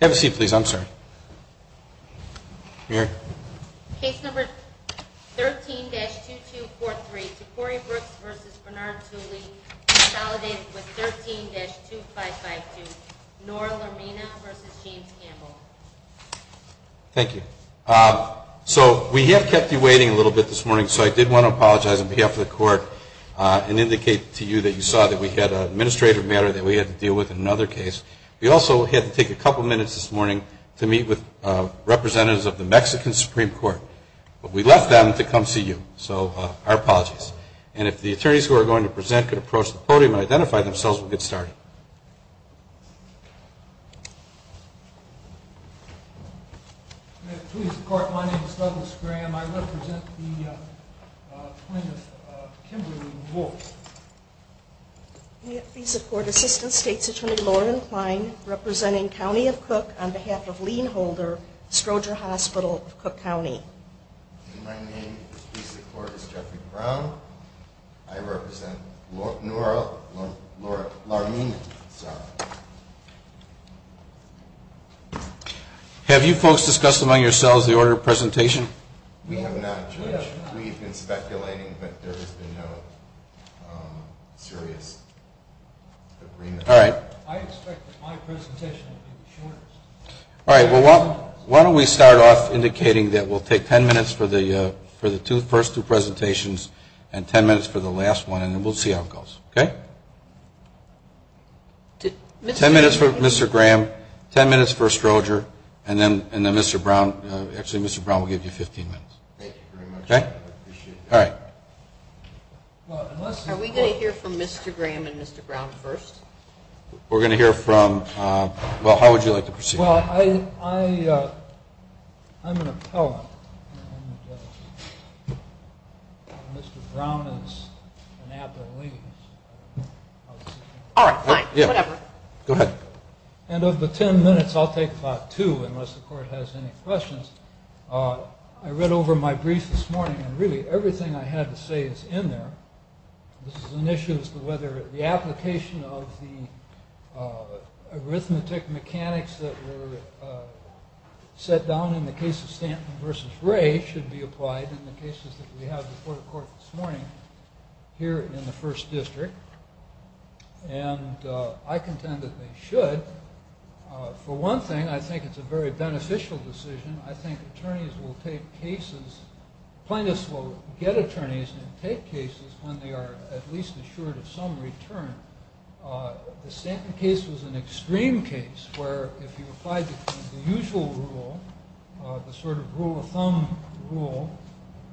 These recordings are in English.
Have a seat please, I'm sorry. Here. Case number 13-2243, Tacori Brooks v. Bernard Toolie, consolidated with 13-2552, Nora Lermina v. James Campbell. Thank you. So we have kept you waiting a little bit this morning, so I did want to apologize on behalf of the court and indicate to you that you saw that we had an administrative matter that we had to deal with in another case. We also had to take a couple minutes this morning to meet with representatives of the Mexican Supreme Court, but we left them to come see you, so our apologies. And if the attorneys who are going to present could approach the podium and identify themselves, we'll get started. May it please the court, my name is Douglas Graham. I represent the plaintiff, Kimberly Wolfson. May it please the court, Assistant State's Attorney Lauren Klein, representing County of Cook, on behalf of Lienholder, Stroger Hospital of Cook County. May it please the court, my name is Jeffrey Brown. I represent Nora Lermina. Have you folks discussed among yourselves the order of presentation? We have not, Judge. We have been speculating, but there has been no serious agreement. I expect that my presentation will be the shortest. All right. Well, why don't we start off indicating that we'll take ten minutes for the first two presentations and ten minutes for the last one, and then we'll see how it goes. Okay? Ten minutes for Mr. Graham, ten minutes for Stroger, and then Mr. Brown, actually Mr. Brown will give you 15 minutes. Thank you very much. Okay? I appreciate it. All right. Are we going to hear from Mr. Graham and Mr. Brown first? We're going to hear from, well, how would you like to proceed? Well, I'm an appellant, and Mr. Brown is an appellate. All right, fine, whatever. Go ahead. And of the ten minutes, I'll take about two, unless the court has any questions. I read over my brief this morning, and really everything I had to say is in there. This is an issue as to whether the application of the arithmetic mechanics that were set down in the case of Stanton v. Ray should be applied in the cases that we have before the court this morning here in the First District. And I contend that they should. For one thing, I think it's a very beneficial decision. I think attorneys will take cases, plaintiffs will get attorneys and take cases when they are at least assured of some return. The Stanton case was an extreme case where if you applied the usual rule, the sort of rule of thumb rule,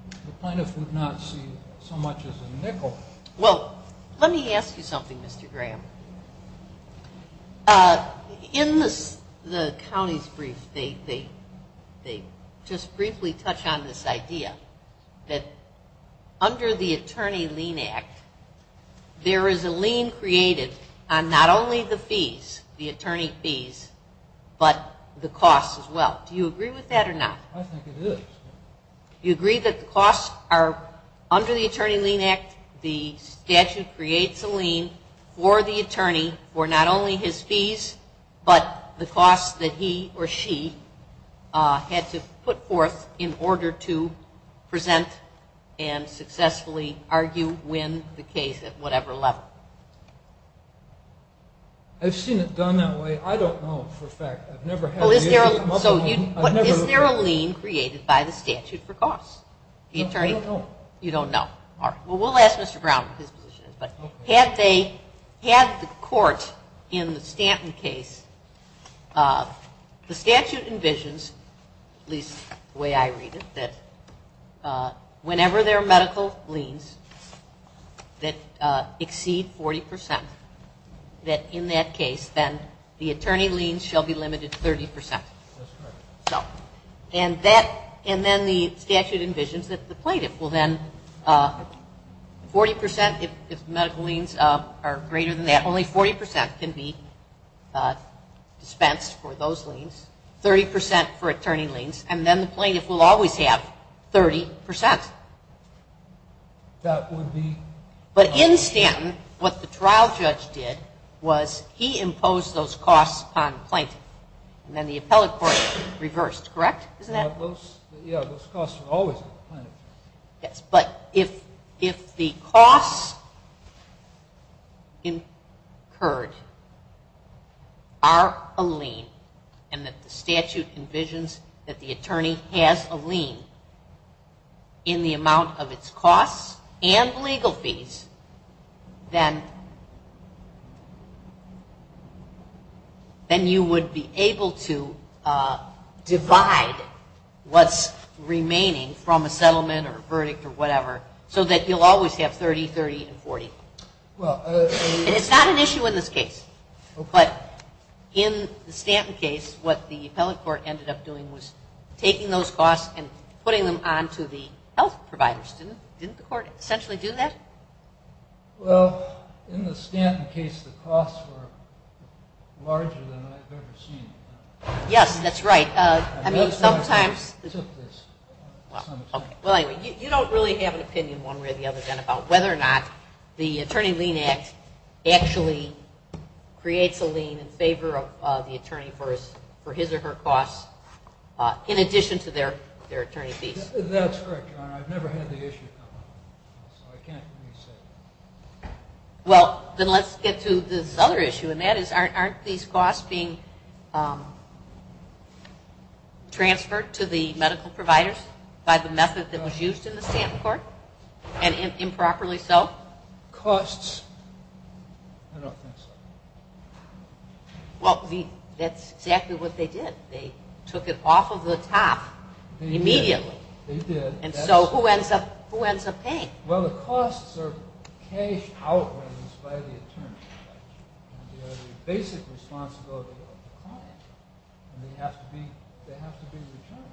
the plaintiff would not see so much as a nickel. Well, let me ask you something, Mr. Graham. In the county's brief, they just briefly touch on this idea that under the Attorney Lien Act, there is a lien created on not only the fees, the attorney fees, but the costs as well. Do you agree with that or not? I think it is. You agree that the costs are under the Attorney Lien Act, the statute creates a lien for the attorney for not only his fees, but the costs that he or she had to put forth in order to present and successfully argue, win the case at whatever level. I've seen it done that way. I don't know for a fact. Is there a lien created by the statute for costs? I don't know. You don't know. All right. Well, we'll ask Mr. Brown what his position is. Had the court in the Stanton case, the statute envisions, at least the way I read it, that whenever there are medical liens that exceed 40 percent, that in that case, then the attorney liens shall be limited to 30 percent. Well, then 40 percent, if medical liens are greater than that, only 40 percent can be dispensed for those liens, 30 percent for attorney liens, and then the plaintiff will always have 30 percent. That would be... But in Stanton, what the trial judge did was he imposed those costs on the plaintiff, and then the appellate court reversed. Correct? Isn't that... Yeah, those costs are always on the plaintiff. But if the costs incurred are a lien and that the statute envisions that the attorney has a lien in the amount of its costs and legal fees, then you would be able to divide what's remaining from a settlement or a verdict or whatever so that you'll always have 30, 30, and 40. And it's not an issue in this case. But in the Stanton case, what the appellate court ended up doing was taking those costs and putting them on to the health providers. Didn't the court essentially do that? Well, in the Stanton case, the costs were larger than I've ever seen. Yes, that's right. I mean, sometimes... It took this, to some extent. Well, anyway, you don't really have an opinion one way or the other, then, about whether or not the Attorney Lien Act actually creates a lien in favor of the attorney for his or her costs in addition to their attorney fees. That's correct, Your Honor. I've never had the issue come up. So I can't really say. Well, then let's get to this other issue, and that is aren't these costs being transferred to the medical providers by the method that was used in the Stanton court and improperly so? Costs? I don't think so. Well, that's exactly what they did. They took it off of the top immediately. They did. And so who ends up paying? Well, the costs are cashed outwards by the attorney. They are the basic responsibility of the client, and they have to be returned.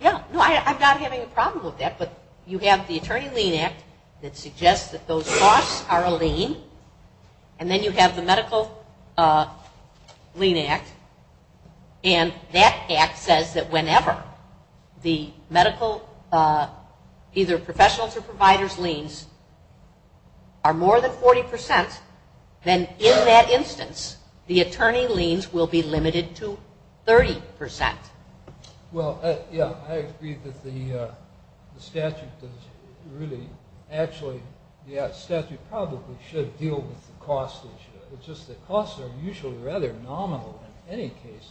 Yeah. No, I'm not having a problem with that, but you have the Attorney Lien Act that suggests that those costs are a lien, and then you have the Medical Lien Act. And that act says that whenever the medical, either professionals' or providers' liens are more than 40%, then in that instance, the attorney liens will be limited to 30%. Well, yeah, I agree that the statute does really actually, yeah, the statute probably should deal with the cost issue. But just the costs are usually rather nominal in any case,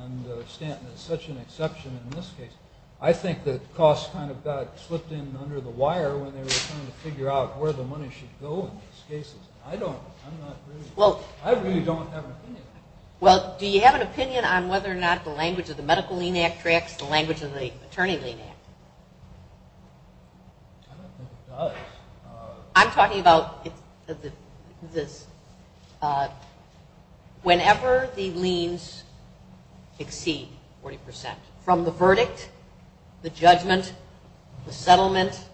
and Stanton is such an exception in this case. I think that costs kind of got slipped in under the wire when they were trying to figure out where the money should go in these cases. I don't, I'm not really, I really don't have an opinion on that. Well, do you have an opinion on whether or not the language of the Medical Lien Act tracks the language of the Attorney Lien Act? I don't think it does. I'm talking about this, whenever the liens exceed 40%, from the verdict, the judgment, the settlement,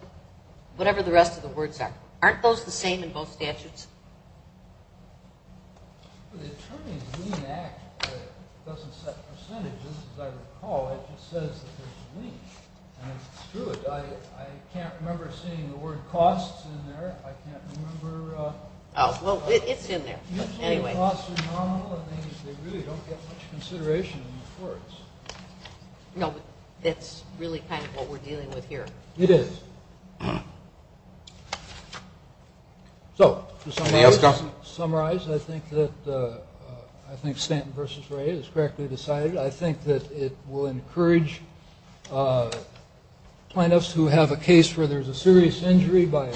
whatever the rest of the words are. Aren't those the same in both statutes? The Attorney's Lien Act doesn't set percentages, as I recall, it just says that there's a lien. And it's true, I can't remember seeing the word costs in there, I can't remember. Oh, well, it's in there, but anyway. Usually the costs are nominal, and they really don't get much consideration in the courts. No, but that's really kind of what we're dealing with here. It is. So, to summarize, I think that, I think Stanton v. Ray is correctly decided. I think that it will encourage plaintiffs who have a case where there's a serious injury by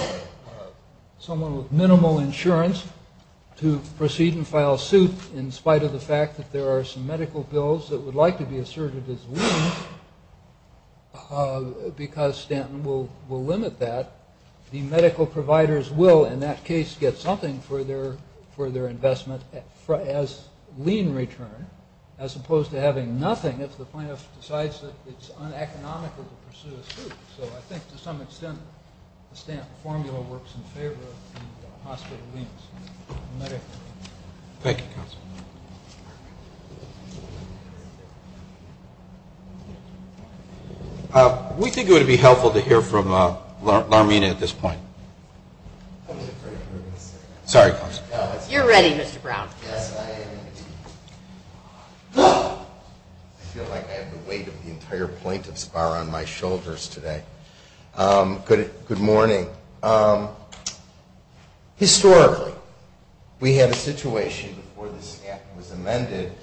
someone with minimal insurance to proceed and file suit, in spite of the fact that there are some medical bills that would like to be asserted as lien, because Stanton will limit that. The medical providers will, in that case, get something for their investment as lien return, as opposed to having nothing if the plaintiff decides that it's uneconomical to pursue a suit. So I think, to some extent, the Stanton formula works in favor of hospital liens. Thank you, counsel. We think it would be helpful to hear from Larmina at this point. Sorry, counsel. You're ready, Mr. Brown. I feel like I have the weight of the entire plaintiff's bar on my shoulders today. Good morning. Historically, we had a situation before the Stanton was amended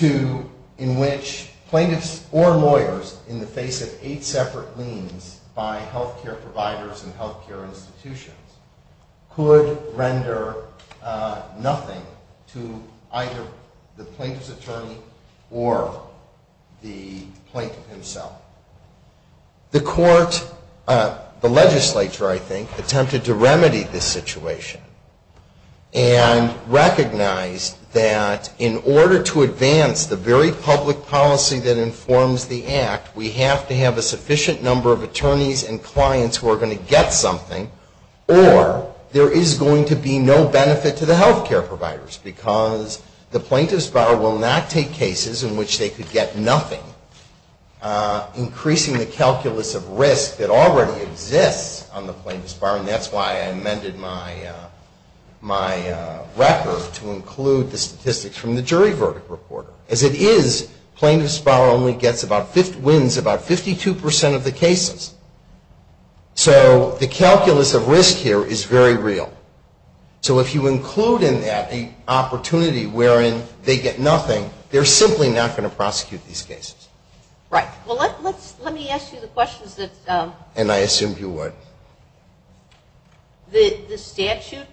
in which plaintiffs or lawyers, in the face of eight separate liens by health care providers and health care institutions, could render nothing to either the plaintiff's attorney or the plaintiff himself. The court, the legislature, I think, attempted to remedy this situation and recognized that in order to advance the very public policy that informs the act, we have to have a sufficient number of attorneys and clients who are going to get something, or there is going to be no benefit to the health care providers, because the plaintiff's bar will not take cases in which they could get nothing, increasing the calculus of risk that already exists on the plaintiff's bar, and that's why I amended my record to include the statistics from the jury verdict reporter. As it is, plaintiff's bar only wins about 52 percent of the cases. So the calculus of risk here is very real. So if you include in that the opportunity wherein they get nothing, they're simply not going to prosecute these cases. Right. Well, let me ask you the questions that the statute,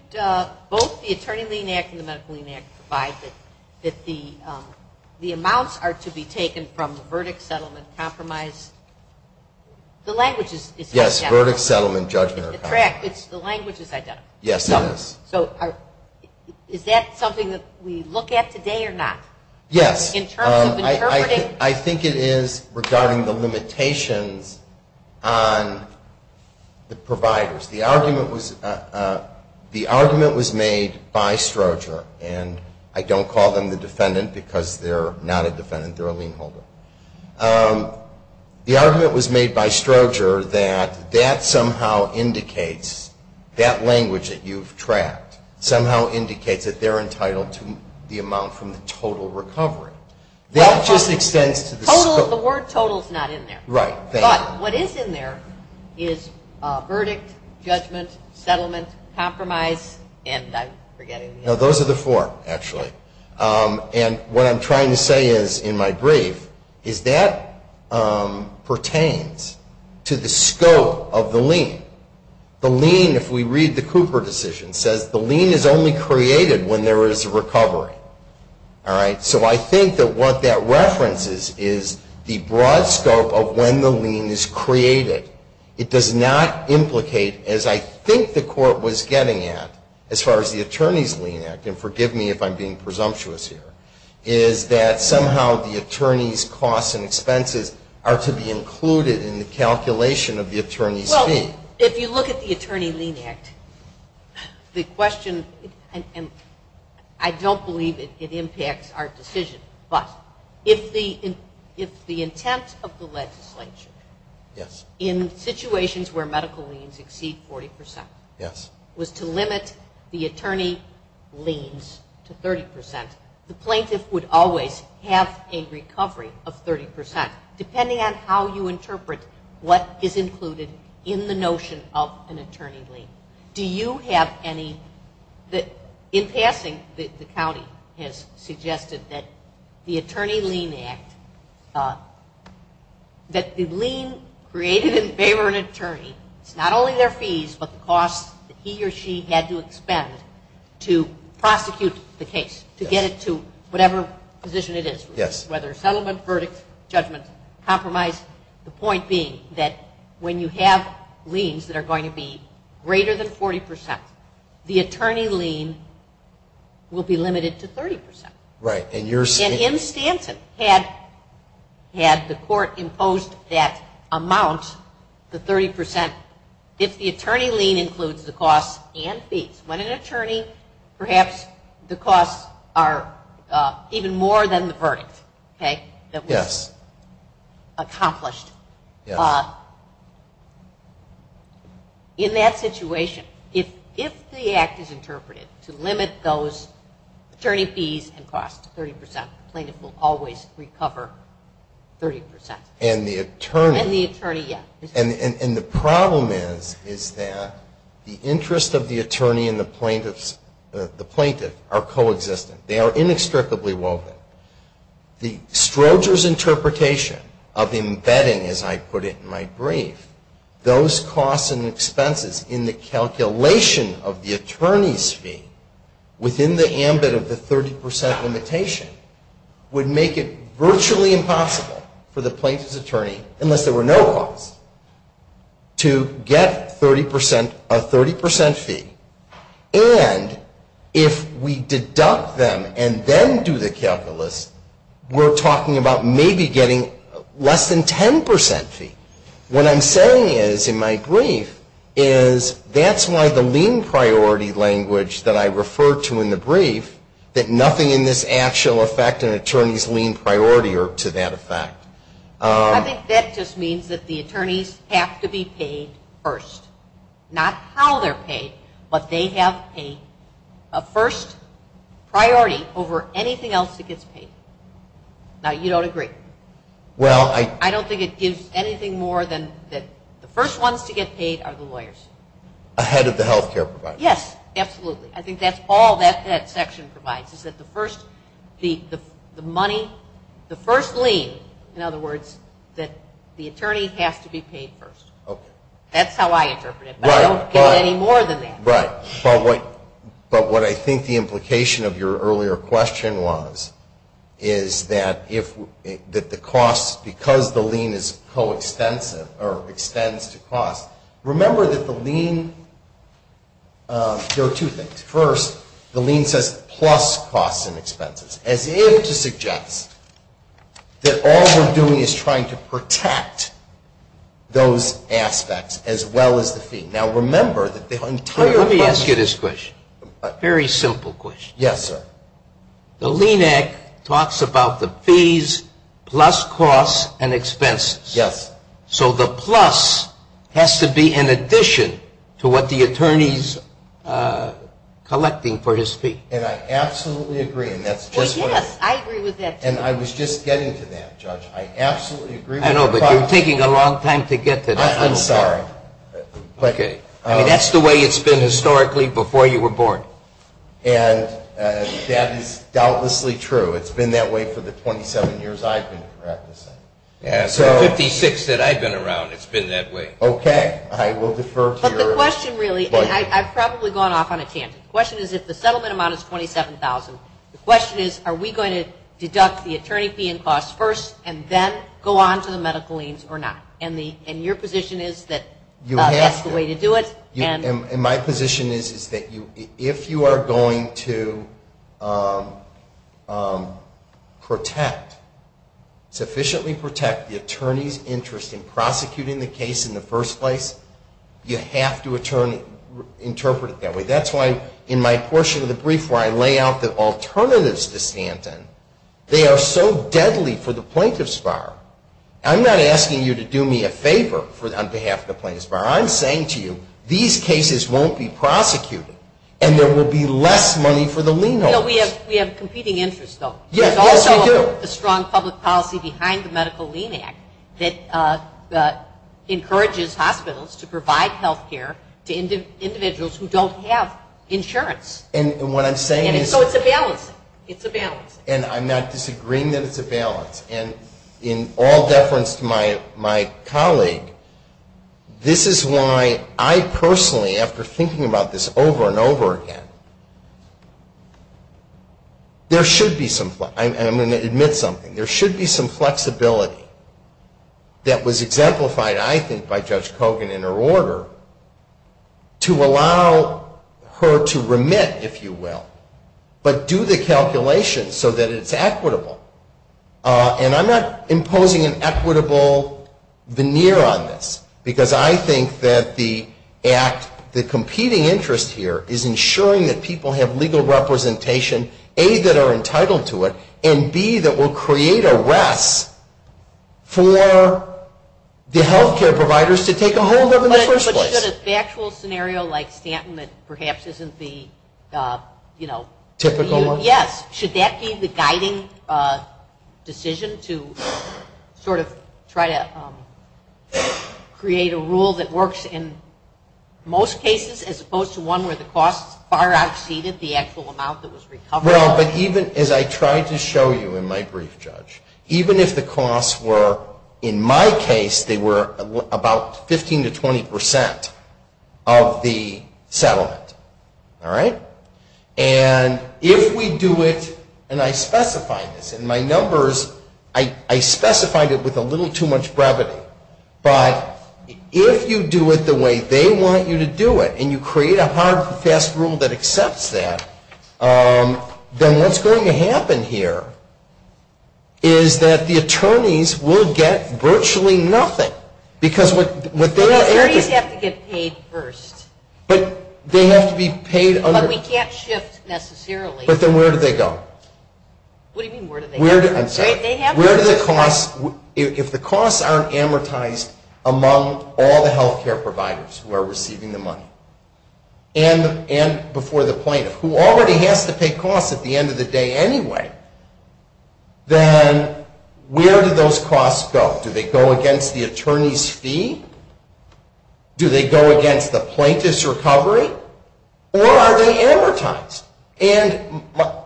both the Attorney Lien Act and the Medical Lien Act provide that the amounts are to be taken from the verdict, settlement, compromise, the language is identical. Yes, verdict, settlement, judgment. The language is identical. Yes, it is. So is that something that we look at today or not? Yes. In terms of interpreting? I think it is regarding the limitations on the providers. The argument was made by Stroger, and I don't call them the defendant because they're not a defendant, they're a lien holder. The argument was made by Stroger that that somehow indicates, that language that you've tracked, somehow indicates that they're entitled to the amount from the total recovery. That just extends to the scope. Total, the word total is not in there. Right. But what is in there is verdict, judgment, settlement, compromise, and I'm forgetting. No, those are the four, actually. And what I'm trying to say is, in my brief, is that pertains to the scope of the lien. The lien, if we read the Cooper decision, says the lien is only created when there is a recovery. All right. So I think that what that references is the broad scope of when the lien is created. It does not implicate, as I think the court was getting at, as far as the Attorney's Lien Act, and forgive me if I'm being presumptuous here, is that somehow the attorney's costs and expenses are to be included in the calculation of the attorney's fee. Well, if you look at the Attorney Lien Act, the question, and I don't believe it impacts our decision, but if the intent of the legislature in situations where medical liens exceed 40% was to limit the attorney liens to 30%, the plaintiff would always have a recovery of 30%, depending on how you interpret what is included in the notion of an attorney lien. Do you have any, in passing, the county has suggested that the Attorney Lien Act, that the lien created in favor of an attorney is not only their fees, but the costs that he or she had to expend to prosecute the case, to get it to whatever position it is, whether settlement, verdict, judgment, compromise, the point being that when you have liens that are going to be greater than 40%, the attorney lien will be limited to 30%. Right. And in Stanton, had the court imposed that amount, the 30%, if the attorney lien includes the costs and fees, when an attorney, perhaps the costs are even more than the verdict, okay, that was accomplished. Yes. The attorney fees and costs, 30%. The plaintiff will always recover 30%. And the attorney. And the attorney, yes. And the problem is, is that the interest of the attorney and the plaintiff are coexistent. They are inextricably woven. The Stroger's interpretation of embedding, as I put it in my brief, those costs and expenses in the calculation of the attorney's fee within the ambit of the 30% limitation would make it virtually impossible for the plaintiff's attorney, unless there were no costs, to get a 30% fee. And if we deduct them and then do the calculus, we're talking about maybe getting less than 10% fee. What I'm saying is, in my brief, is that's why the lien priority language that I refer to in the brief, that nothing in this act shall affect an attorney's lien priority to that effect. I think that just means that the attorneys have to be paid first. Not how they're paid, but they have a first priority over anything else that gets paid. Now, you don't agree. I don't think it gives anything more than that the first ones to get paid are the lawyers. Ahead of the health care provider. Yes, absolutely. I think that's all that section provides, is that the first money, the first lien, in other words, that the attorney has to be paid first. That's how I interpret it, but I don't give it any more than that. Right. But what I think the implication of your earlier question was, is that the cost, because the lien is co-extensive, or extends to cost, remember that the lien, there are two things. First, the lien says plus costs and expenses, as if to suggest that all we're doing is trying to protect those aspects, as well as the fee. Let me ask you this question, a very simple question. Yes, sir. The lien act talks about the fees plus costs and expenses. Yes. So the plus has to be in addition to what the attorney's collecting for his fee. And I absolutely agree, and that's just what it is. Yes, I agree with that, too. And I was just getting to that, Judge. I absolutely agree with the cost. I know, but you're taking a long time to get to that. I'm sorry. Okay. I mean, that's the way it's been historically before you were born. And that is doubtlessly true. It's been that way for the 27 years I've been practicing. So 56 that I've been around, it's been that way. Okay. I will defer to your question. But the question really, and I've probably gone off on a tangent. The question is, if the settlement amount is $27,000, the question is, are we going to deduct the attorney fee and costs first, and then go on to the medical liens or not? And your position is that that's the way to do it. And my position is that if you are going to protect, sufficiently protect the attorney's interest in prosecuting the case in the first place, you have to interpret it that way. That's why in my portion of the brief where I lay out the alternatives to Stanton, they are so deadly for the plaintiff's bar. I'm not asking you to do me a favor on behalf of the plaintiff's bar. I'm saying to you, these cases won't be prosecuted, and there will be less money for the lien holders. We have competing interests, though. Yes, we do. There's also a strong public policy behind the Medical Lien Act that encourages hospitals to provide health care to individuals who don't have insurance. And what I'm saying is. And so it's a balance. It's a balance. And I'm not disagreeing that it's a balance. And in all deference to my colleague, this is why I personally, after thinking about this over and over again, there should be some, and I'm going to admit something, there should be some flexibility that was exemplified, I think, by Judge Kogan in her order to allow her to remit, if you will, but do the calculations so that it's equitable. And I'm not imposing an equitable veneer on this, because I think that the act, the competing interest here is ensuring that people have legal representation, A, that are entitled to it, and, B, that will create a rest for the health care providers to take a hold of in the first place. If you look at a factual scenario like Stanton that perhaps isn't the, you know. Typical one? Yes. Should that be the guiding decision to sort of try to create a rule that works in most cases, as opposed to one where the costs far exceeded the actual amount that was recovered? Well, but even as I tried to show you in my brief, Judge, even if the costs were, in my case, they were about 15 to 20 percent of the settlement, all right? And if we do it, and I specified this in my numbers, I specified it with a little too much brevity, but if you do it the way they want you to do it and you create a hard, fast rule that accepts that, then what's going to happen here is that the attorneys will get virtually nothing. Because what they have to. The attorneys have to get paid first. But they have to be paid under. But we can't shift necessarily. But then where do they go? What do you mean where do they go? I'm sorry. They have to. Where do the costs, if the costs aren't amortized among all the health care providers who are receiving the money, and before the plaintiff, who already has to pay costs at the end of the day anyway, then where do those costs go? Do they go against the attorney's fee? Do they go against the plaintiff's recovery? Or are they amortized? And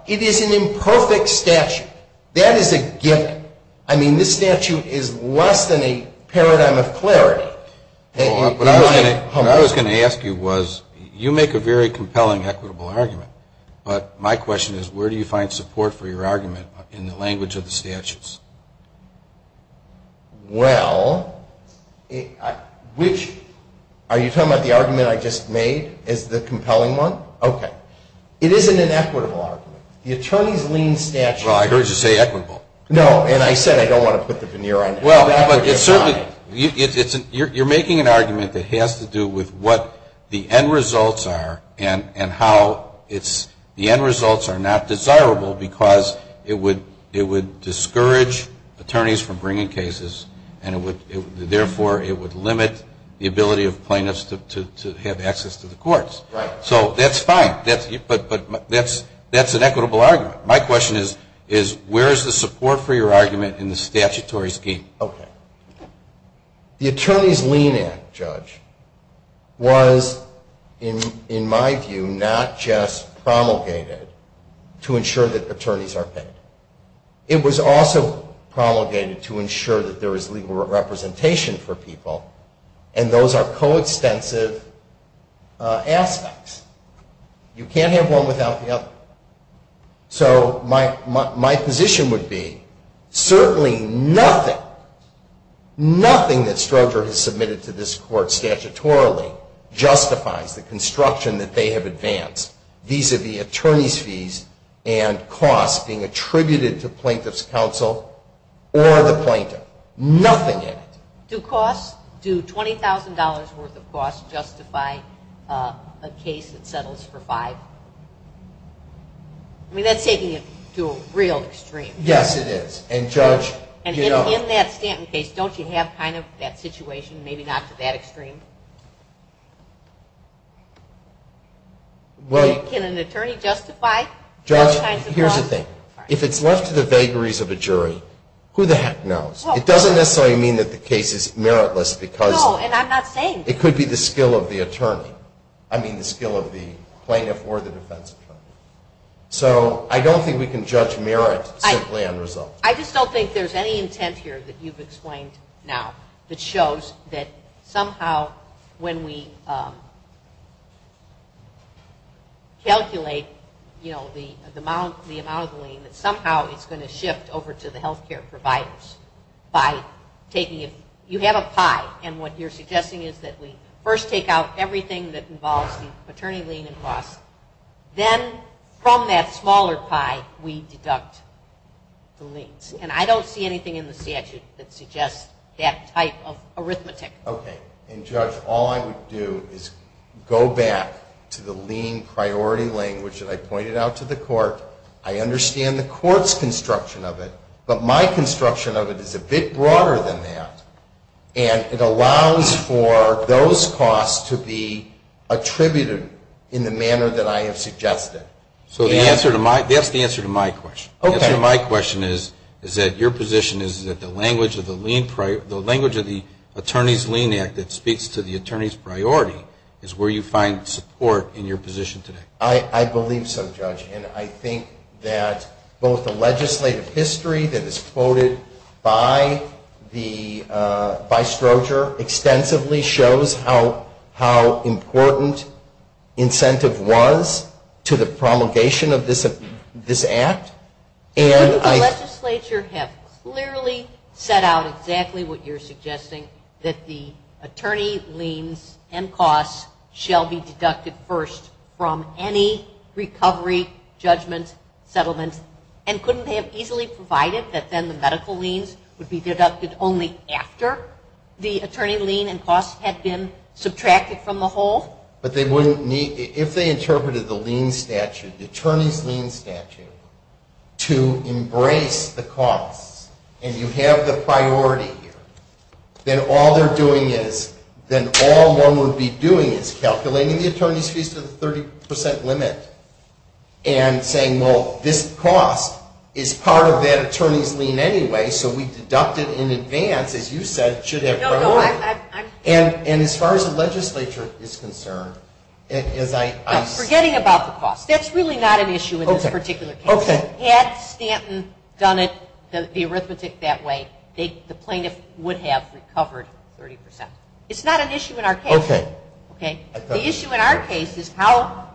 it is an imperfect statute. That is a given. I mean, this statute is less than a paradigm of clarity. What I was going to ask you was, you make a very compelling, equitable argument. But my question is, where do you find support for your argument in the language of the statutes? Well, which? Are you talking about the argument I just made as the compelling one? Okay. It isn't an equitable argument. The attorney's lien statute. Well, I heard you say equitable. No, and I said I don't want to put the veneer on that. Well, you're making an argument that has to do with what the end results are and how the end results are not desirable because it would discourage attorneys from bringing cases, and therefore it would limit the ability of plaintiffs to have access to the courts. Right. So that's fine. But that's an equitable argument. My question is, where is the support for your argument in the statutory scheme? Okay. The Attorney's Lien Act, Judge, was, in my view, not just promulgated to ensure that attorneys are paid. It was also promulgated to ensure that there is legal representation for people, and those are coextensive aspects. You can't have one without the other. So my position would be certainly nothing, nothing that Stroger has submitted to this court statutorily justifies the construction that they have advanced vis-à-vis attorney's fees and costs being attributed to plaintiff's counsel or the plaintiff. Nothing in it. Do costs, do $20,000 worth of costs justify a case that settles for five? I mean, that's taking it to a real extreme. Yes, it is. And, Judge, you know. And in that Stanton case, don't you have kind of that situation, maybe not to that extreme? Can an attorney justify those kinds of costs? Judge, here's the thing. If it's left to the vagaries of a jury, who the heck knows? It doesn't necessarily mean that the case is meritless because it could be the skill of the attorney. I mean the skill of the plaintiff or the defense attorney. So I don't think we can judge merit simply on result. I just don't think there's any intent here that you've explained now that shows that somehow when we calculate, you know, the amount of the lien, that somehow it's going to shift over to the health care providers by taking it. You have a pie. And what you're suggesting is that we first take out everything that involves the attorney lien and costs. Then from that smaller pie, we deduct the liens. And I don't see anything in the statute that suggests that type of arithmetic. Okay. And, Judge, all I would do is go back to the lien priority language that I pointed out to the court. I understand the court's construction of it. But my construction of it is a bit broader than that. And it allows for those costs to be attributed in the manner that I have suggested. So the answer to my question is that your position is that the language of the attorneys lien act that speaks to the attorney's priority is where you find support in your position today. I believe so, Judge. And I think that both the legislative history that is quoted by the, by Stroger, extensively shows how important incentive was to the promulgation of this act. The legislature have clearly set out exactly what you're suggesting, that the attorney liens and costs shall be deducted first from any recovery, judgment, settlement. And couldn't they have easily provided that then the medical liens would be deducted only after the attorney lien and costs had been subtracted from the whole? But they wouldn't need, if they interpreted the lien statute, the attorney's lien statute, to embrace the costs and you have the priority, then all they're doing is, then all one would be doing is calculating the attorney's fees to the 30 percent limit and saying, well, this cost is part of that attorney's lien anyway, so we deduct it in advance, as you said, it should have priority. And as far as the legislature is concerned, as I... Forgetting about the costs, that's really not an issue in this particular case. Had Stanton done it, the arithmetic that way, the plaintiff would have recovered 30 percent. It's not an issue in our case. The issue in our case is how,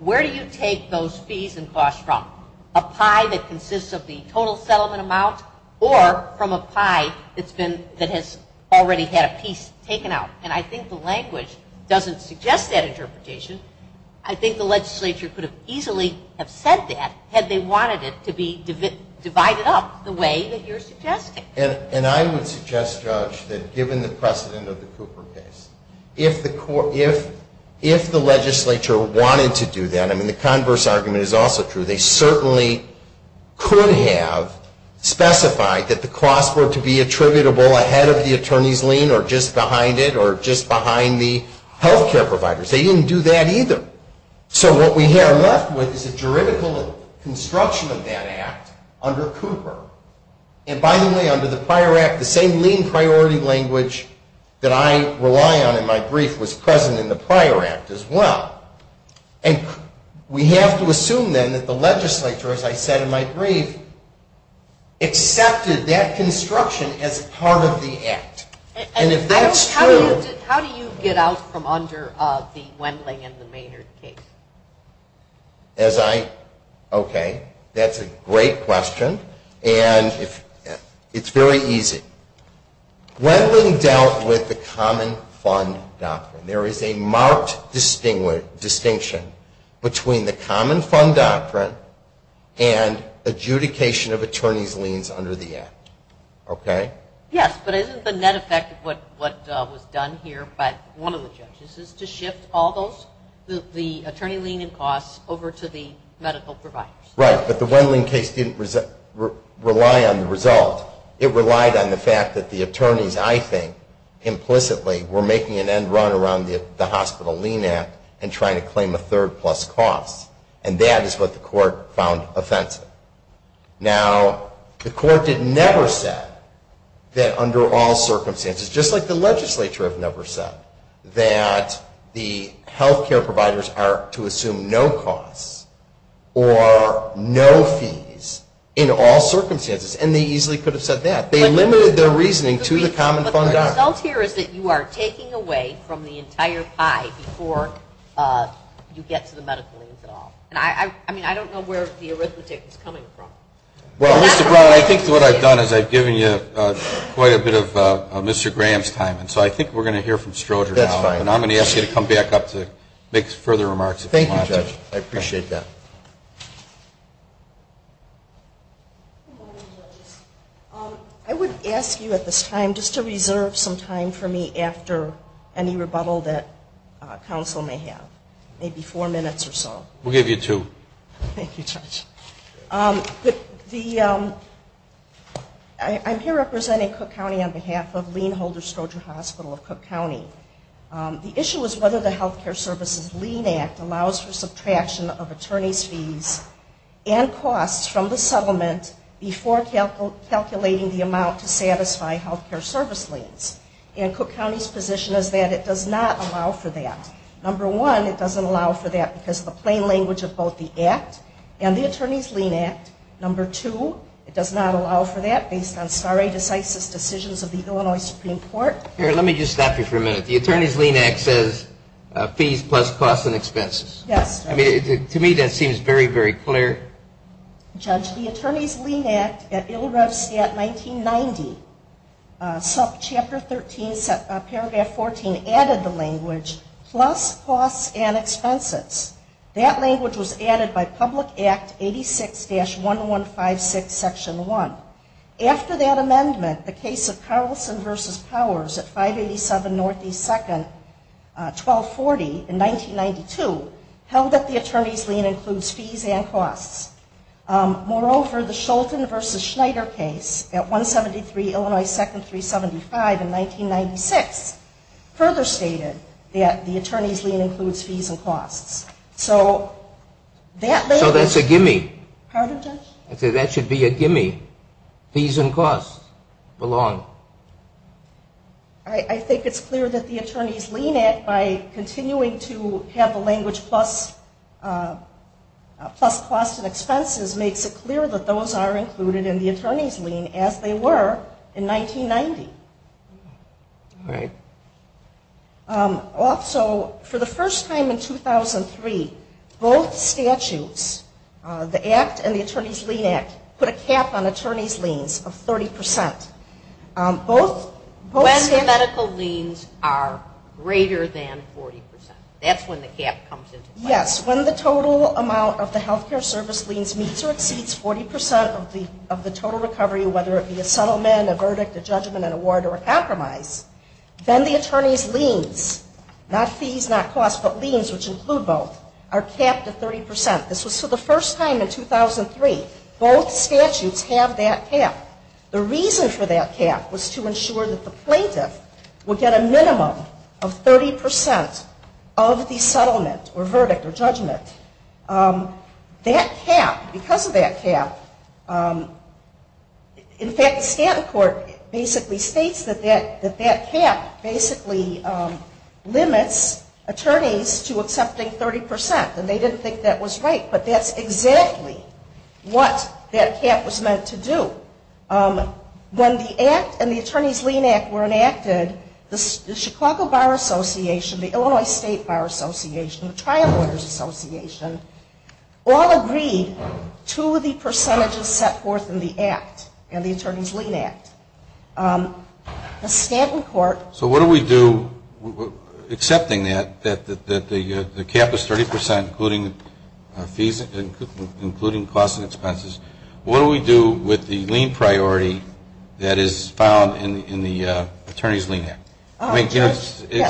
where do you take those fees and costs from? A pie that consists of the total settlement amount or from a pie that's been, that has already had a piece taken out? And I think the language doesn't suggest that interpretation. I think the legislature could have easily have said that had they wanted it to be divided up the way that you're suggesting. And I would suggest, Judge, that given the precedent of the Cooper case, if the legislature wanted to do that, I mean, the converse argument is also true, they certainly could have specified that the costs were to be attributable ahead of the attorney's lien or just behind it or just behind the health care providers. They didn't do that either. So what we are left with is a juridical construction of that act under Cooper. And by the way, under the prior act, the same lien priority language that I rely on in my brief was present in the prior act as well. And we have to assume then that the legislature, as I said in my brief, accepted that construction as part of the act. And if that's true... How do you get out from under the Wendling and the Maynard case? As I, okay, that's a great question. And it's very easy. Wendling dealt with the common fund doctrine. There is a marked distinction between the common fund doctrine and adjudication of attorney's liens under the act. Okay? Yes, but isn't the net effect of what was done here by one of the judges is to shift all those, the attorney lien and costs, over to the medical providers? Right, but the Wendling case didn't rely on the result. It relied on the fact that the attorneys, I think, implicitly, were making an end run around the Hospital Lien Act and trying to claim a third plus cost. And that is what the court found offensive. Now, the court did never say that under all circumstances, just like the legislature have never said, that the health care providers are to assume no costs or no fees in all circumstances. And they easily could have said that. They limited their reasoning to the common fund doctrine. But the result here is that you are taking away from the entire pie before you get to the medical liens at all. I mean, I don't know where the arithmetic is coming from. Well, Mr. Brown, I think what I've done is I've given you quite a bit of Mr. Graham's time, and so I think we're going to hear from Stroger now. That's fine. And I'm going to ask you to come back up to make further remarks if you want to. Thank you, Judge. I appreciate that. I would ask you at this time just to reserve some time for me after any rebuttal that counsel may have, maybe four minutes or so. We'll give you two. Thank you, Judge. I'm here representing Cook County on behalf of Lien Holder Stroger Hospital of Cook County. The issue is whether the Health Care Services Lien Act allows for subtraction of attorney's fees and costs from the settlement before calculating the amount to satisfy health care service liens. And Cook County's position is that it does not allow for that. Number one, it doesn't allow for that because of the plain language of both the act and the Attorney's Lien Act. Number two, it does not allow for that based on stare decisis decisions of the Illinois Supreme Court. Here, let me just stop you for a minute. The Attorney's Lien Act says fees plus costs and expenses. Yes, Judge. I mean, to me that seems very, very clear. Judge, the Attorney's Lien Act at ILL-REV-STAT 1990, Chapter 13, Paragraph 14 added the language plus costs and expenses. That language was added by Public Act 86-1156, Section 1. After that amendment, the case of Carlson v. Powers at 587 Northeast 2nd, 1240 in 1992, held that the Attorney's Lien includes fees and costs. Moreover, the Scholten v. Schneider case at 173 Illinois 2nd, 375 in 1996, further stated that the Attorney's Lien includes fees and costs. So that language. So that's a gimme. Pardon, Judge? I said that should be a gimme. Fees and costs belong. I think it's clear that the Attorney's Lien Act, by continuing to have the language plus costs and expenses, makes it clear that those are included in the Attorney's Lien, as they were in 1990. All right. Also, for the first time in 2003, both statutes, the Act and the Attorney's Lien Act, put a cap on attorney's liens of 30%. When the medical liens are greater than 40%. That's when the cap comes into play. Yes. When the total amount of the health care service liens meets or exceeds 40% of the total recovery, whether it be a settlement, a verdict, a judgment, an award, or a compromise, then the attorney's liens, not fees, not costs, but liens, which include both, are capped at 30%. This was for the first time in 2003. Both statutes have that cap. The reason for that cap was to ensure that the plaintiff would get a minimum of 30% of the settlement or verdict or judgment. That cap, because of that cap, in fact, Stanton Court basically states that that cap basically limits attorneys to accepting 30%. And they didn't think that was right. But that's exactly what that cap was meant to do. When the Act and the Attorney's Lien Act were enacted, the Chicago Bar Association, the Illinois State Bar Association, the Trial Lawyers Association, all agreed to the percentages set forth in the Act and the Attorney's Lien Act. The Stanton Court So what do we do, accepting that, that the cap is 30%, including costs and expenses, what do we do with the lien priority that is found in the Attorney's Lien Act?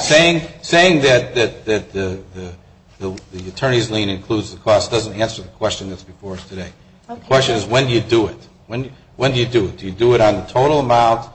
Saying that the Attorney's Lien includes the cost doesn't answer the question that's before us today. The question is, when do you do it? When do you do it? Do you do it on the total amount?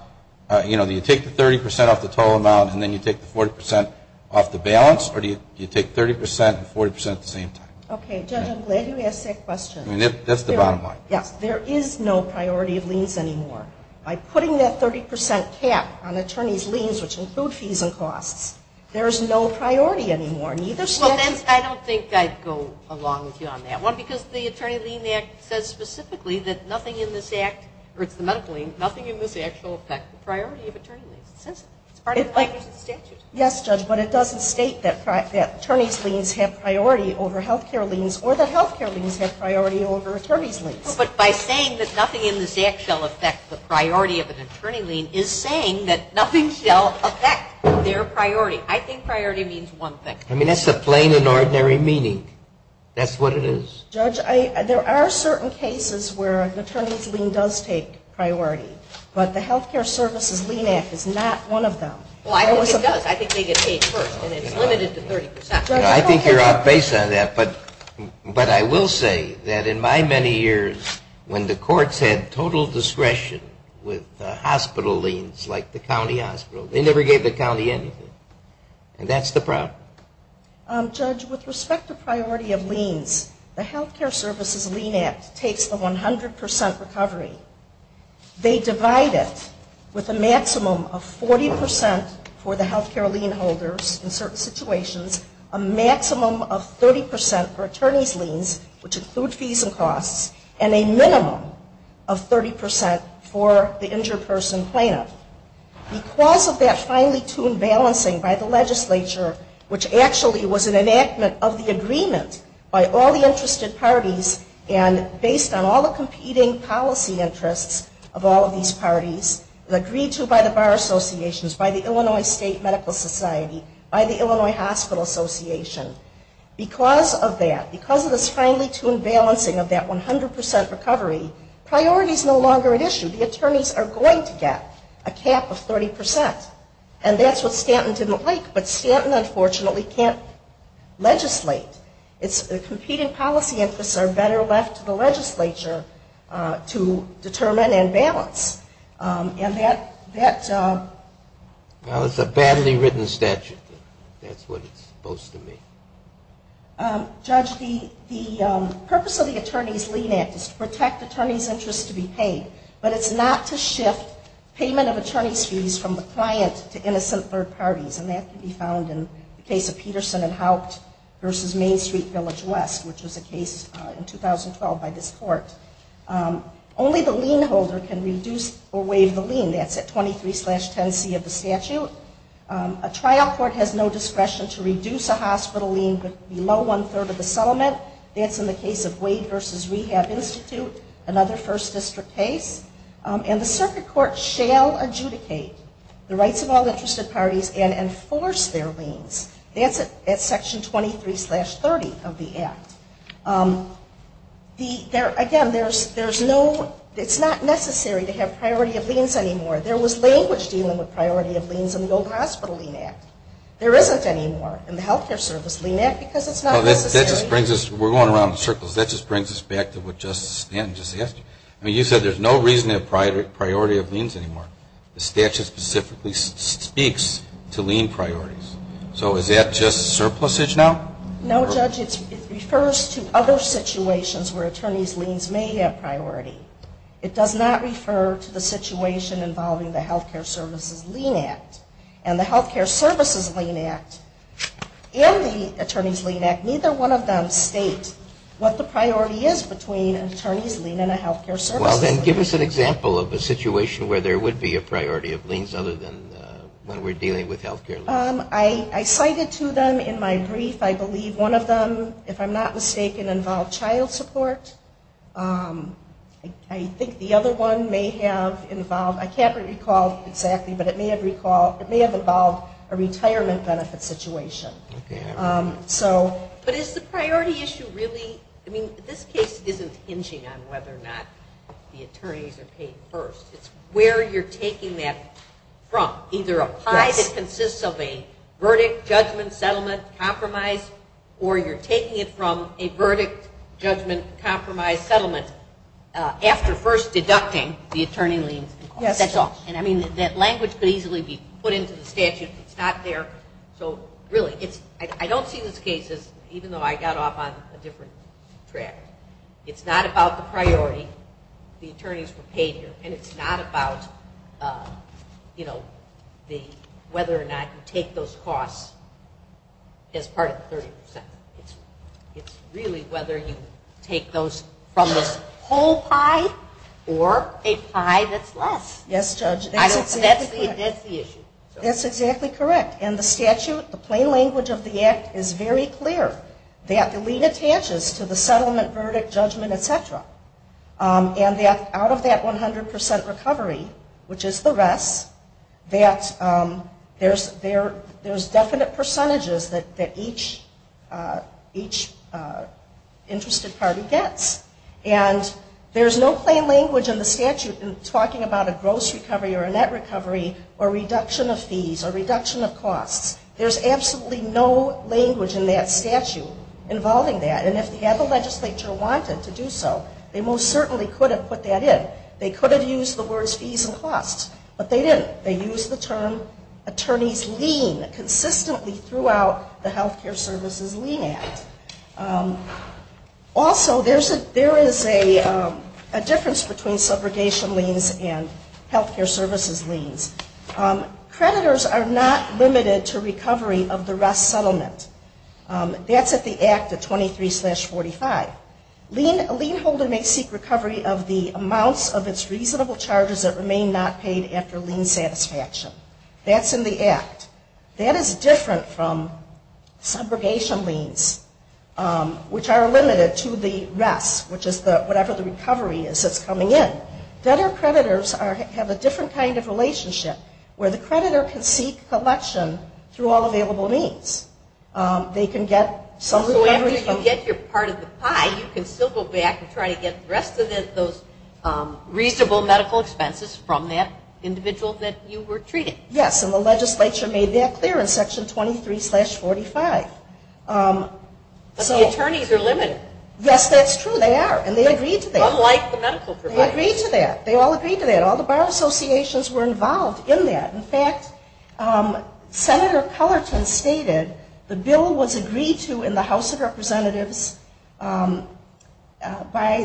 Do you take the 30% off the total amount and then you take the 40% off the balance? Or do you take 30% and 40% at the same time? Okay, Judge, I'm glad you asked that question. That's the bottom line. Yes, there is no priority of liens anymore. By putting that 30% cap on attorney's liens, which include fees and costs, there is no priority anymore. Well, then I don't think I'd go along with you on that. One, because the Attorney's Lien Act says specifically that nothing in this Act, or it's the medical lien, nothing in this Act shall affect the priority of attorney liens. It says it. It's part of the statute. Yes, Judge, but it doesn't state that attorney's liens have priority over health care liens or that health care liens have priority over attorney's liens. But by saying that nothing in this Act shall affect the priority of an attorney lien is saying that nothing shall affect their priority. I think priority means one thing. I mean, that's the plain and ordinary meaning. That's what it is. Judge, there are certain cases where an attorney's lien does take priority, but the Health Care Services Lien Act is not one of them. Well, I think it does. I think they get paid first, and it's limited to 30%. I think you're off base on that, but I will say that in my many years, when the courts had total discretion with hospital liens like the county hospital, they never gave the county anything. And that's the problem. Judge, with respect to priority of liens, the Health Care Services Lien Act takes the 100% recovery. They divide it with a maximum of 40% for the health care lien holders in certain situations, a maximum of 30% for attorney's liens, which include fees and costs, and a minimum of 30% for the injured person plaintiff. Because of that finely tuned balancing by the legislature, which actually was an enactment of the agreement by all the interested parties and based on all the competing policy interests of all of these parties, agreed to by the bar associations, by the Illinois State Medical Society, by the Illinois Hospital Association. Because of that, because of this finely tuned balancing of that 100% recovery, priority is no longer an issue. The attorneys are going to get a cap of 30%, and that's what Stanton didn't like. But Stanton, unfortunately, can't legislate. The competing policy interests are better left to the legislature to determine and balance. And that... Well, it's a badly written statute. That's what it's supposed to mean. Judge, the purpose of the Attorney's Lien Act is to protect attorney's interests to be paid, but it's not to shift payment of attorney's fees from the client to innocent third parties. And that can be found in the case of Peterson and Haupt v. Main Street Village West, which was a case in 2012 by this court. Only the lien holder can reduce or waive the lien. That's at 23-10C of the statute. A trial court has no discretion to reduce a hospital lien below one-third of the settlement. That's in the case of Wade v. Rehab Institute, another First District case. And the circuit court shall adjudicate the rights of all interested parties and enforce their liens. That's at Section 23-30 of the Act. Again, there's no... It's not necessary to have priority of liens anymore. There was language dealing with priority of liens in the Golden Hospital Lien Act. There isn't anymore in the Health Care Service Lien Act because it's not necessary. That just brings us... We're going around in circles. That just brings us back to what Justice Stanton just asked you. You said there's no reason to have priority of liens anymore. The statute specifically speaks to lien priorities. So is that just surplusage now? No, Judge. It refers to other situations where attorney's liens may have priority. It does not refer to the situation involving the Health Care Services Lien Act. And the Health Care Services Lien Act and the Attorney's Lien Act, neither one of them state what the priority is between an attorney's lien and a health care service. Well, then give us an example of a situation where there would be a priority of liens other than when we're dealing with health care liens. I cited two of them in my brief. I believe one of them, if I'm not mistaken, involved child support. I think the other one may have involved... I can't recall exactly, but it may have involved a retirement benefit situation. But is the priority issue really... I mean, this case isn't hinging on whether or not the attorneys are paid first. It's where you're taking that from. Either a pie that consists of a verdict, judgment, settlement, compromise, or you're taking it from a verdict, judgment, compromise, settlement, after first deducting the attorney liens. That's all. And I mean, that language could easily be put into the statute. It's not there. So really, I don't see this case as, even though I got off on a different track, it's not about the priority, the attorneys were paid here, and it's not about whether or not you take those costs as part of the 30%. It's really whether you take those from this whole pie or a pie that's less. Yes, Judge. That's the issue. That's exactly correct. And the statute, the plain language of the act is very clear that the lien attaches to the settlement, verdict, judgment, et cetera. And out of that 100% recovery, which is the rest, that there's definite percentages that each interested party gets. And there's no plain language in the statute talking about a gross recovery or a net recovery or reduction of fees or reduction of costs. There's absolutely no language in that statute involving that. And if they had the legislature wanted to do so, they most certainly could have put that in. They could have used the words fees and costs, but they didn't. They used the term attorneys lien consistently throughout the Health Care Services Lien Act. Also, there is a difference between subrogation liens and health care services liens. Creditors are not limited to recovery of the rest settlement. That's at the act of 23-45. A lien holder may seek recovery of the amounts of its reasonable charges that remain not paid after lien satisfaction. That's in the act. That is different from subrogation liens, which are limited to the rest, which is whatever the recovery is that's coming in. Debtor-creditors have a different kind of relationship where the creditor can seek collection through all available means. They can get some recovery from... So after you get your part of the pie, you can still go back and try to get the rest of those reasonable medical expenses from that individual that you were treating. Yes, and the legislature made that clear in Section 23-45. But the attorneys are limited. Yes, that's true. They are, and they agreed to that. Unlike the medical providers. They agreed to that. They all agreed to that. All the bar associations were involved in that. In fact, Senator Cullerton stated the bill was agreed to in the House of Representatives by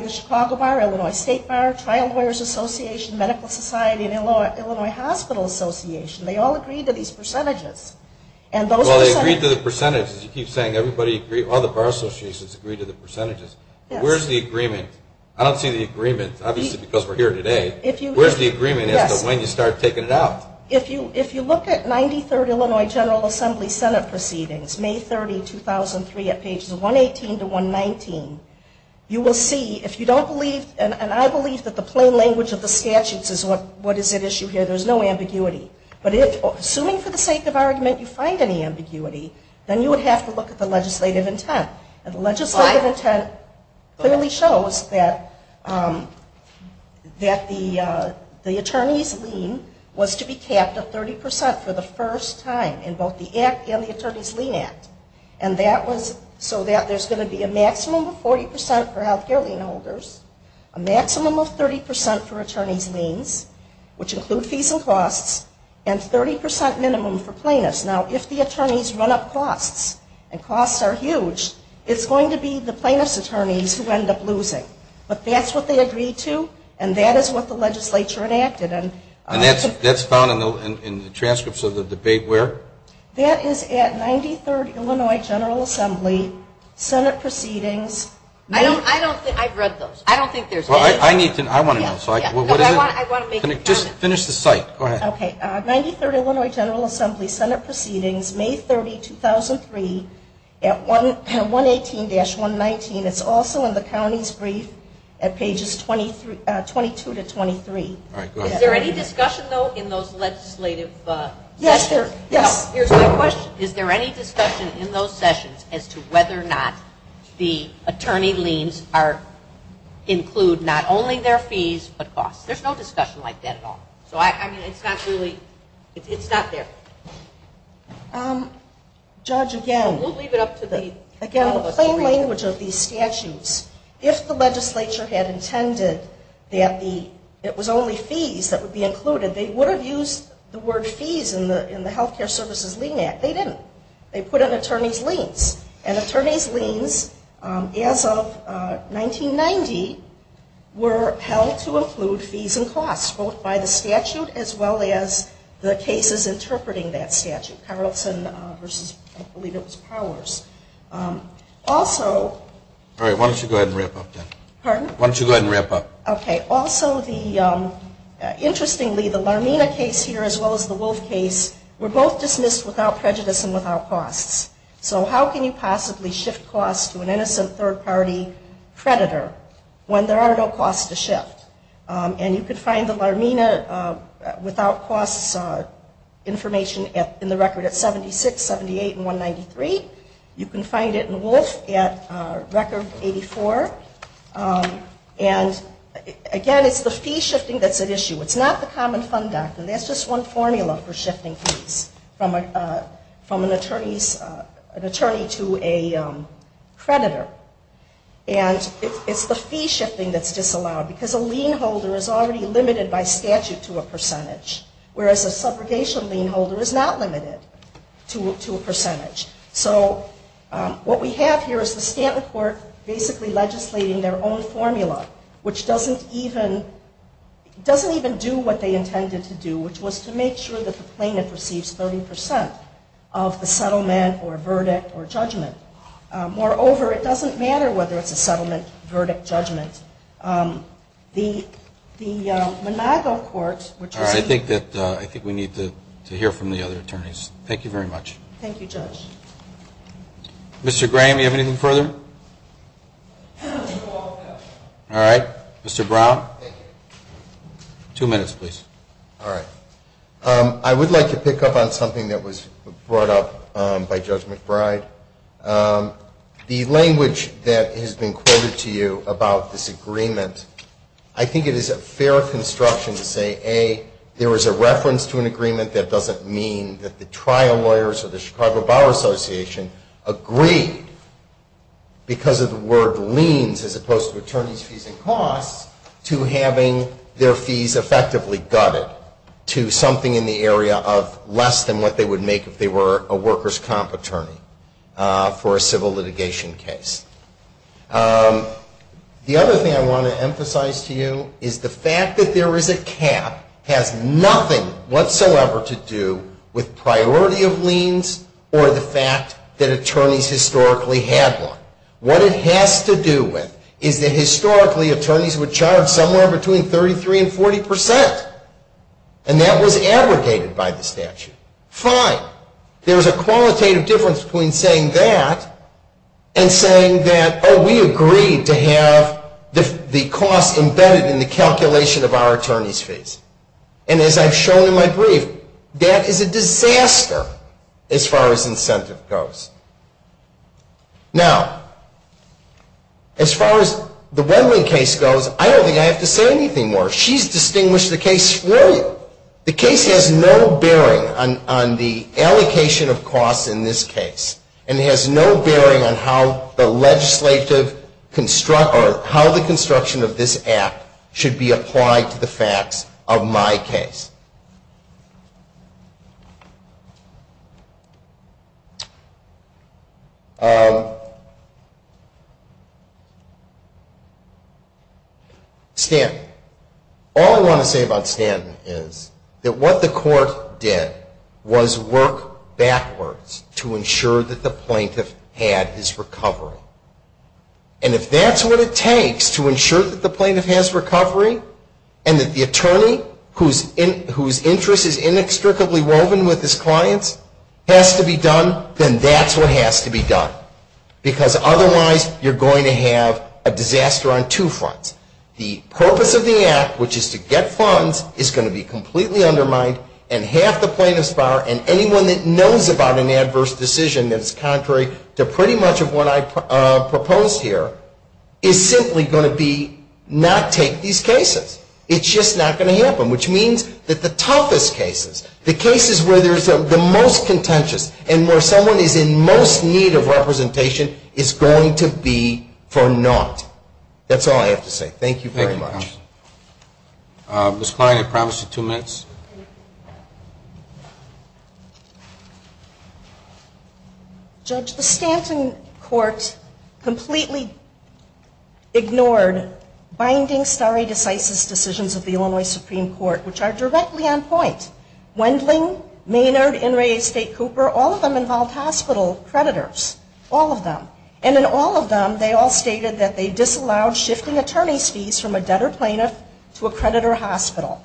the Chicago Bar, Illinois State Bar, Trial Lawyers Association, Medical Society, and Illinois Hospital Association. They all agreed to these percentages. Well, they agreed to the percentages. You keep saying everybody agreed, all the bar associations agreed to the percentages. Where's the agreement? I don't see the agreement, obviously because we're here today. Where's the agreement as to when you start taking it out? If you look at 93rd Illinois General Assembly Senate Proceedings, May 30, 2003, at pages 118 to 119, you will see if you don't believe, and I believe that the plain language of the statutes is what is at issue here. There's no ambiguity. But assuming for the sake of argument you find any ambiguity, then you would have to look at the legislative intent. And the legislative intent clearly shows that the attorney's lien was to be capped at 30% for the first time in both the Act and the Attorney's Lien Act. A maximum of 30% for attorney's liens, which include fees and costs, and 30% minimum for plaintiffs. Now, if the attorneys run up costs, and costs are huge, it's going to be the plaintiff's attorneys who end up losing. But that's what they agreed to, and that is what the legislature enacted. And that's found in the transcripts of the debate where? That is at 93rd Illinois General Assembly Senate Proceedings. I've read those. I don't think there's any. Well, I need to know. I want to know. What is it? Just finish the site. Go ahead. Okay. 93rd Illinois General Assembly Senate Proceedings, May 30, 2003, at 118-119. It's also in the county's brief at pages 22 to 23. Is there any discussion, though, in those legislative sessions? Yes. Here's my question. Is there any discussion in those sessions as to whether or not the attorney liens include not only their fees but costs? There's no discussion like that at all. So, I mean, it's not really – it's not there. Judge, again – We'll leave it up to the – Again, the plain language of these statutes, if the legislature had intended that it was only fees that would be included, they would have used the word fees in the Health Care Services Lien Act. They didn't. They put in attorney's liens. And attorney's liens, as of 1990, were held to include fees and costs both by the statute as well as the cases interpreting that statute, Carlson v. I believe it was Powers. Also – All right. Why don't you go ahead and wrap up then? Pardon? Why don't you go ahead and wrap up? Okay. Also, the – interestingly, the Larmina case here as well as the Wolf case were both dismissed without prejudice and without costs. So how can you possibly shift costs to an innocent third-party predator when there are no costs to shift? And you could find the Larmina without costs information in the record at 76, 78, and 193. You can find it in Wolf at record 84. And, again, it's the fee shifting that's at issue. It's not the Common Fund Act. And that's just one formula for shifting fees from an attorney to a predator. And it's the fee shifting that's disallowed because a lien holder is already limited by statute to a percentage, whereas a subrogation lien holder is not limited to a percentage. So what we have here is the Stanton court basically legislating their own formula, which doesn't even do what they intended to do, which was to make sure that the plaintiff receives 30 percent of the settlement or verdict or judgment. Moreover, it doesn't matter whether it's a settlement, verdict, judgment. The Monago court, which is a – All right. I think we need to hear from the other attorneys. Thank you very much. Thank you, Judge. Mr. Graham, do you have anything further? All right. Mr. Brown? Thank you. Two minutes, please. All right. I would like to pick up on something that was brought up by Judge McBride. The language that has been quoted to you about this agreement, I think it is a fair construction to say, A, there was a reference to an agreement that doesn't mean that the trial lawyers or the Chicago Bar Association agreed because of the word liens as opposed to attorneys' fees and costs to having their fees effectively gutted to something in the area of less than what they would make if they were a workers' comp attorney for a civil litigation case. The other thing I want to emphasize to you is the fact that there is a cap or the fact that attorneys historically had one. What it has to do with is that historically attorneys would charge somewhere between 33 and 40 percent, and that was abrogated by the statute. Fine. There is a qualitative difference between saying that and saying that, oh, we agreed to have the cost embedded in the calculation of our attorneys' fees. And as I've shown in my brief, that is a disaster as far as incentive goes. Now, as far as the Wendland case goes, I don't think I have to say anything more. She's distinguished the case for you. The case has no bearing on the allocation of costs in this case, and it has no bearing on how the legislative construct or how the construction of this Act should be applied to the facts of my case. Stanton. All I want to say about Stanton is that what the court did was work backwards to ensure that the plaintiff had his recovery. And if that's what it takes to ensure that the plaintiff has recovery and that the attorney whose interest is inextricably woven with his clients has to be done, then that's what has to be done. Because otherwise you're going to have a disaster on two fronts. The purpose of the Act, which is to get funds, is going to be completely undermined and half the plaintiff's power and anyone that knows about an adverse decision that is contrary to pretty much what I proposed here is simply going to be not take these cases. It's just not going to happen, which means that the toughest cases, the cases where there's the most contentious and where someone is in most need of representation is going to be for naught. That's all I have to say. Thank you very much. Thank you, Tom. Ms. Klein, I promise you two minutes. Judge, the Stanton Court completely ignored binding stare decisis decisions of the Illinois Supreme Court, which are directly on point. Wendling, Maynard, Inouye, State, Cooper, all of them involved hospital creditors. All of them. And in all of them they all stated that they disallowed shifting attorney's fees from a debtor plaintiff to a creditor hospital.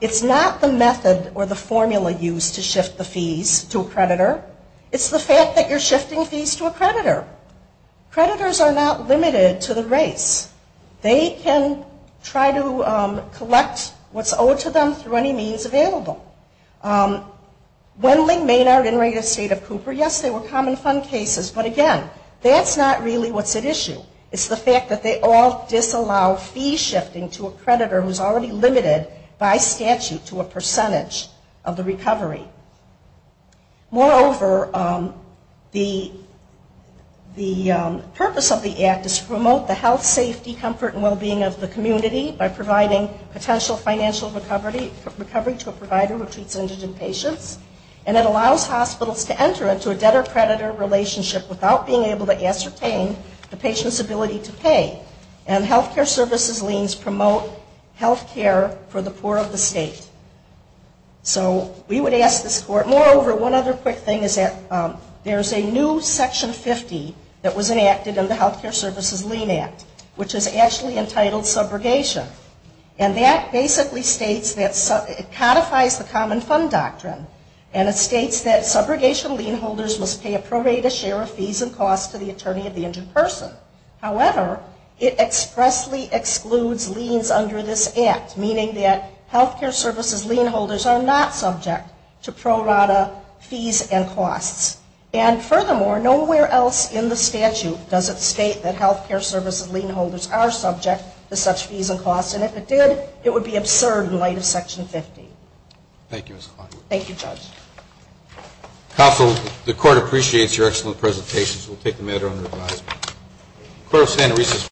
It's not the method or the formula used to shift the fees to a creditor. It's the fact that you're shifting fees to a creditor. Creditors are not limited to the race. They can try to collect what's owed to them through any means available. Wendling, Maynard, Inouye, State, Cooper, yes, they were common fund cases, but again, that's not really what's at issue. It's the fact that they all disallow fee shifting to a creditor who's already limited by statute to a percentage of the recovery. Moreover, the purpose of the act is to promote the health, safety, comfort, and well-being of the community by providing potential financial recovery to a provider who treats indigent patients. And it allows hospitals to enter into a debtor-creditor relationship without being able to ascertain the patient's ability to pay. And health care services liens promote health care for the poor of the state. So we would ask this court. Moreover, one other quick thing is that there's a new Section 50 that was enacted in the Health Care Services Lien Act, which is actually entitled subrogation. And that basically states that it codifies the common fund doctrine. And it states that subrogation lien holders must pay a prorated share of fees and costs to the attorney of the injured person. However, it expressly excludes liens under this act, meaning that health care services lien holders are not subject to prorata fees and costs. And furthermore, nowhere else in the statute does it state that health care services lien holders are subject to such fees and costs. And if it did, it would be absurd in light of Section 50. Thank you, Ms. Kleinberg. Thank you, Judge. Counsel, the court appreciates your excellent presentations. We'll take the matter under advisement. The court will stand at recess.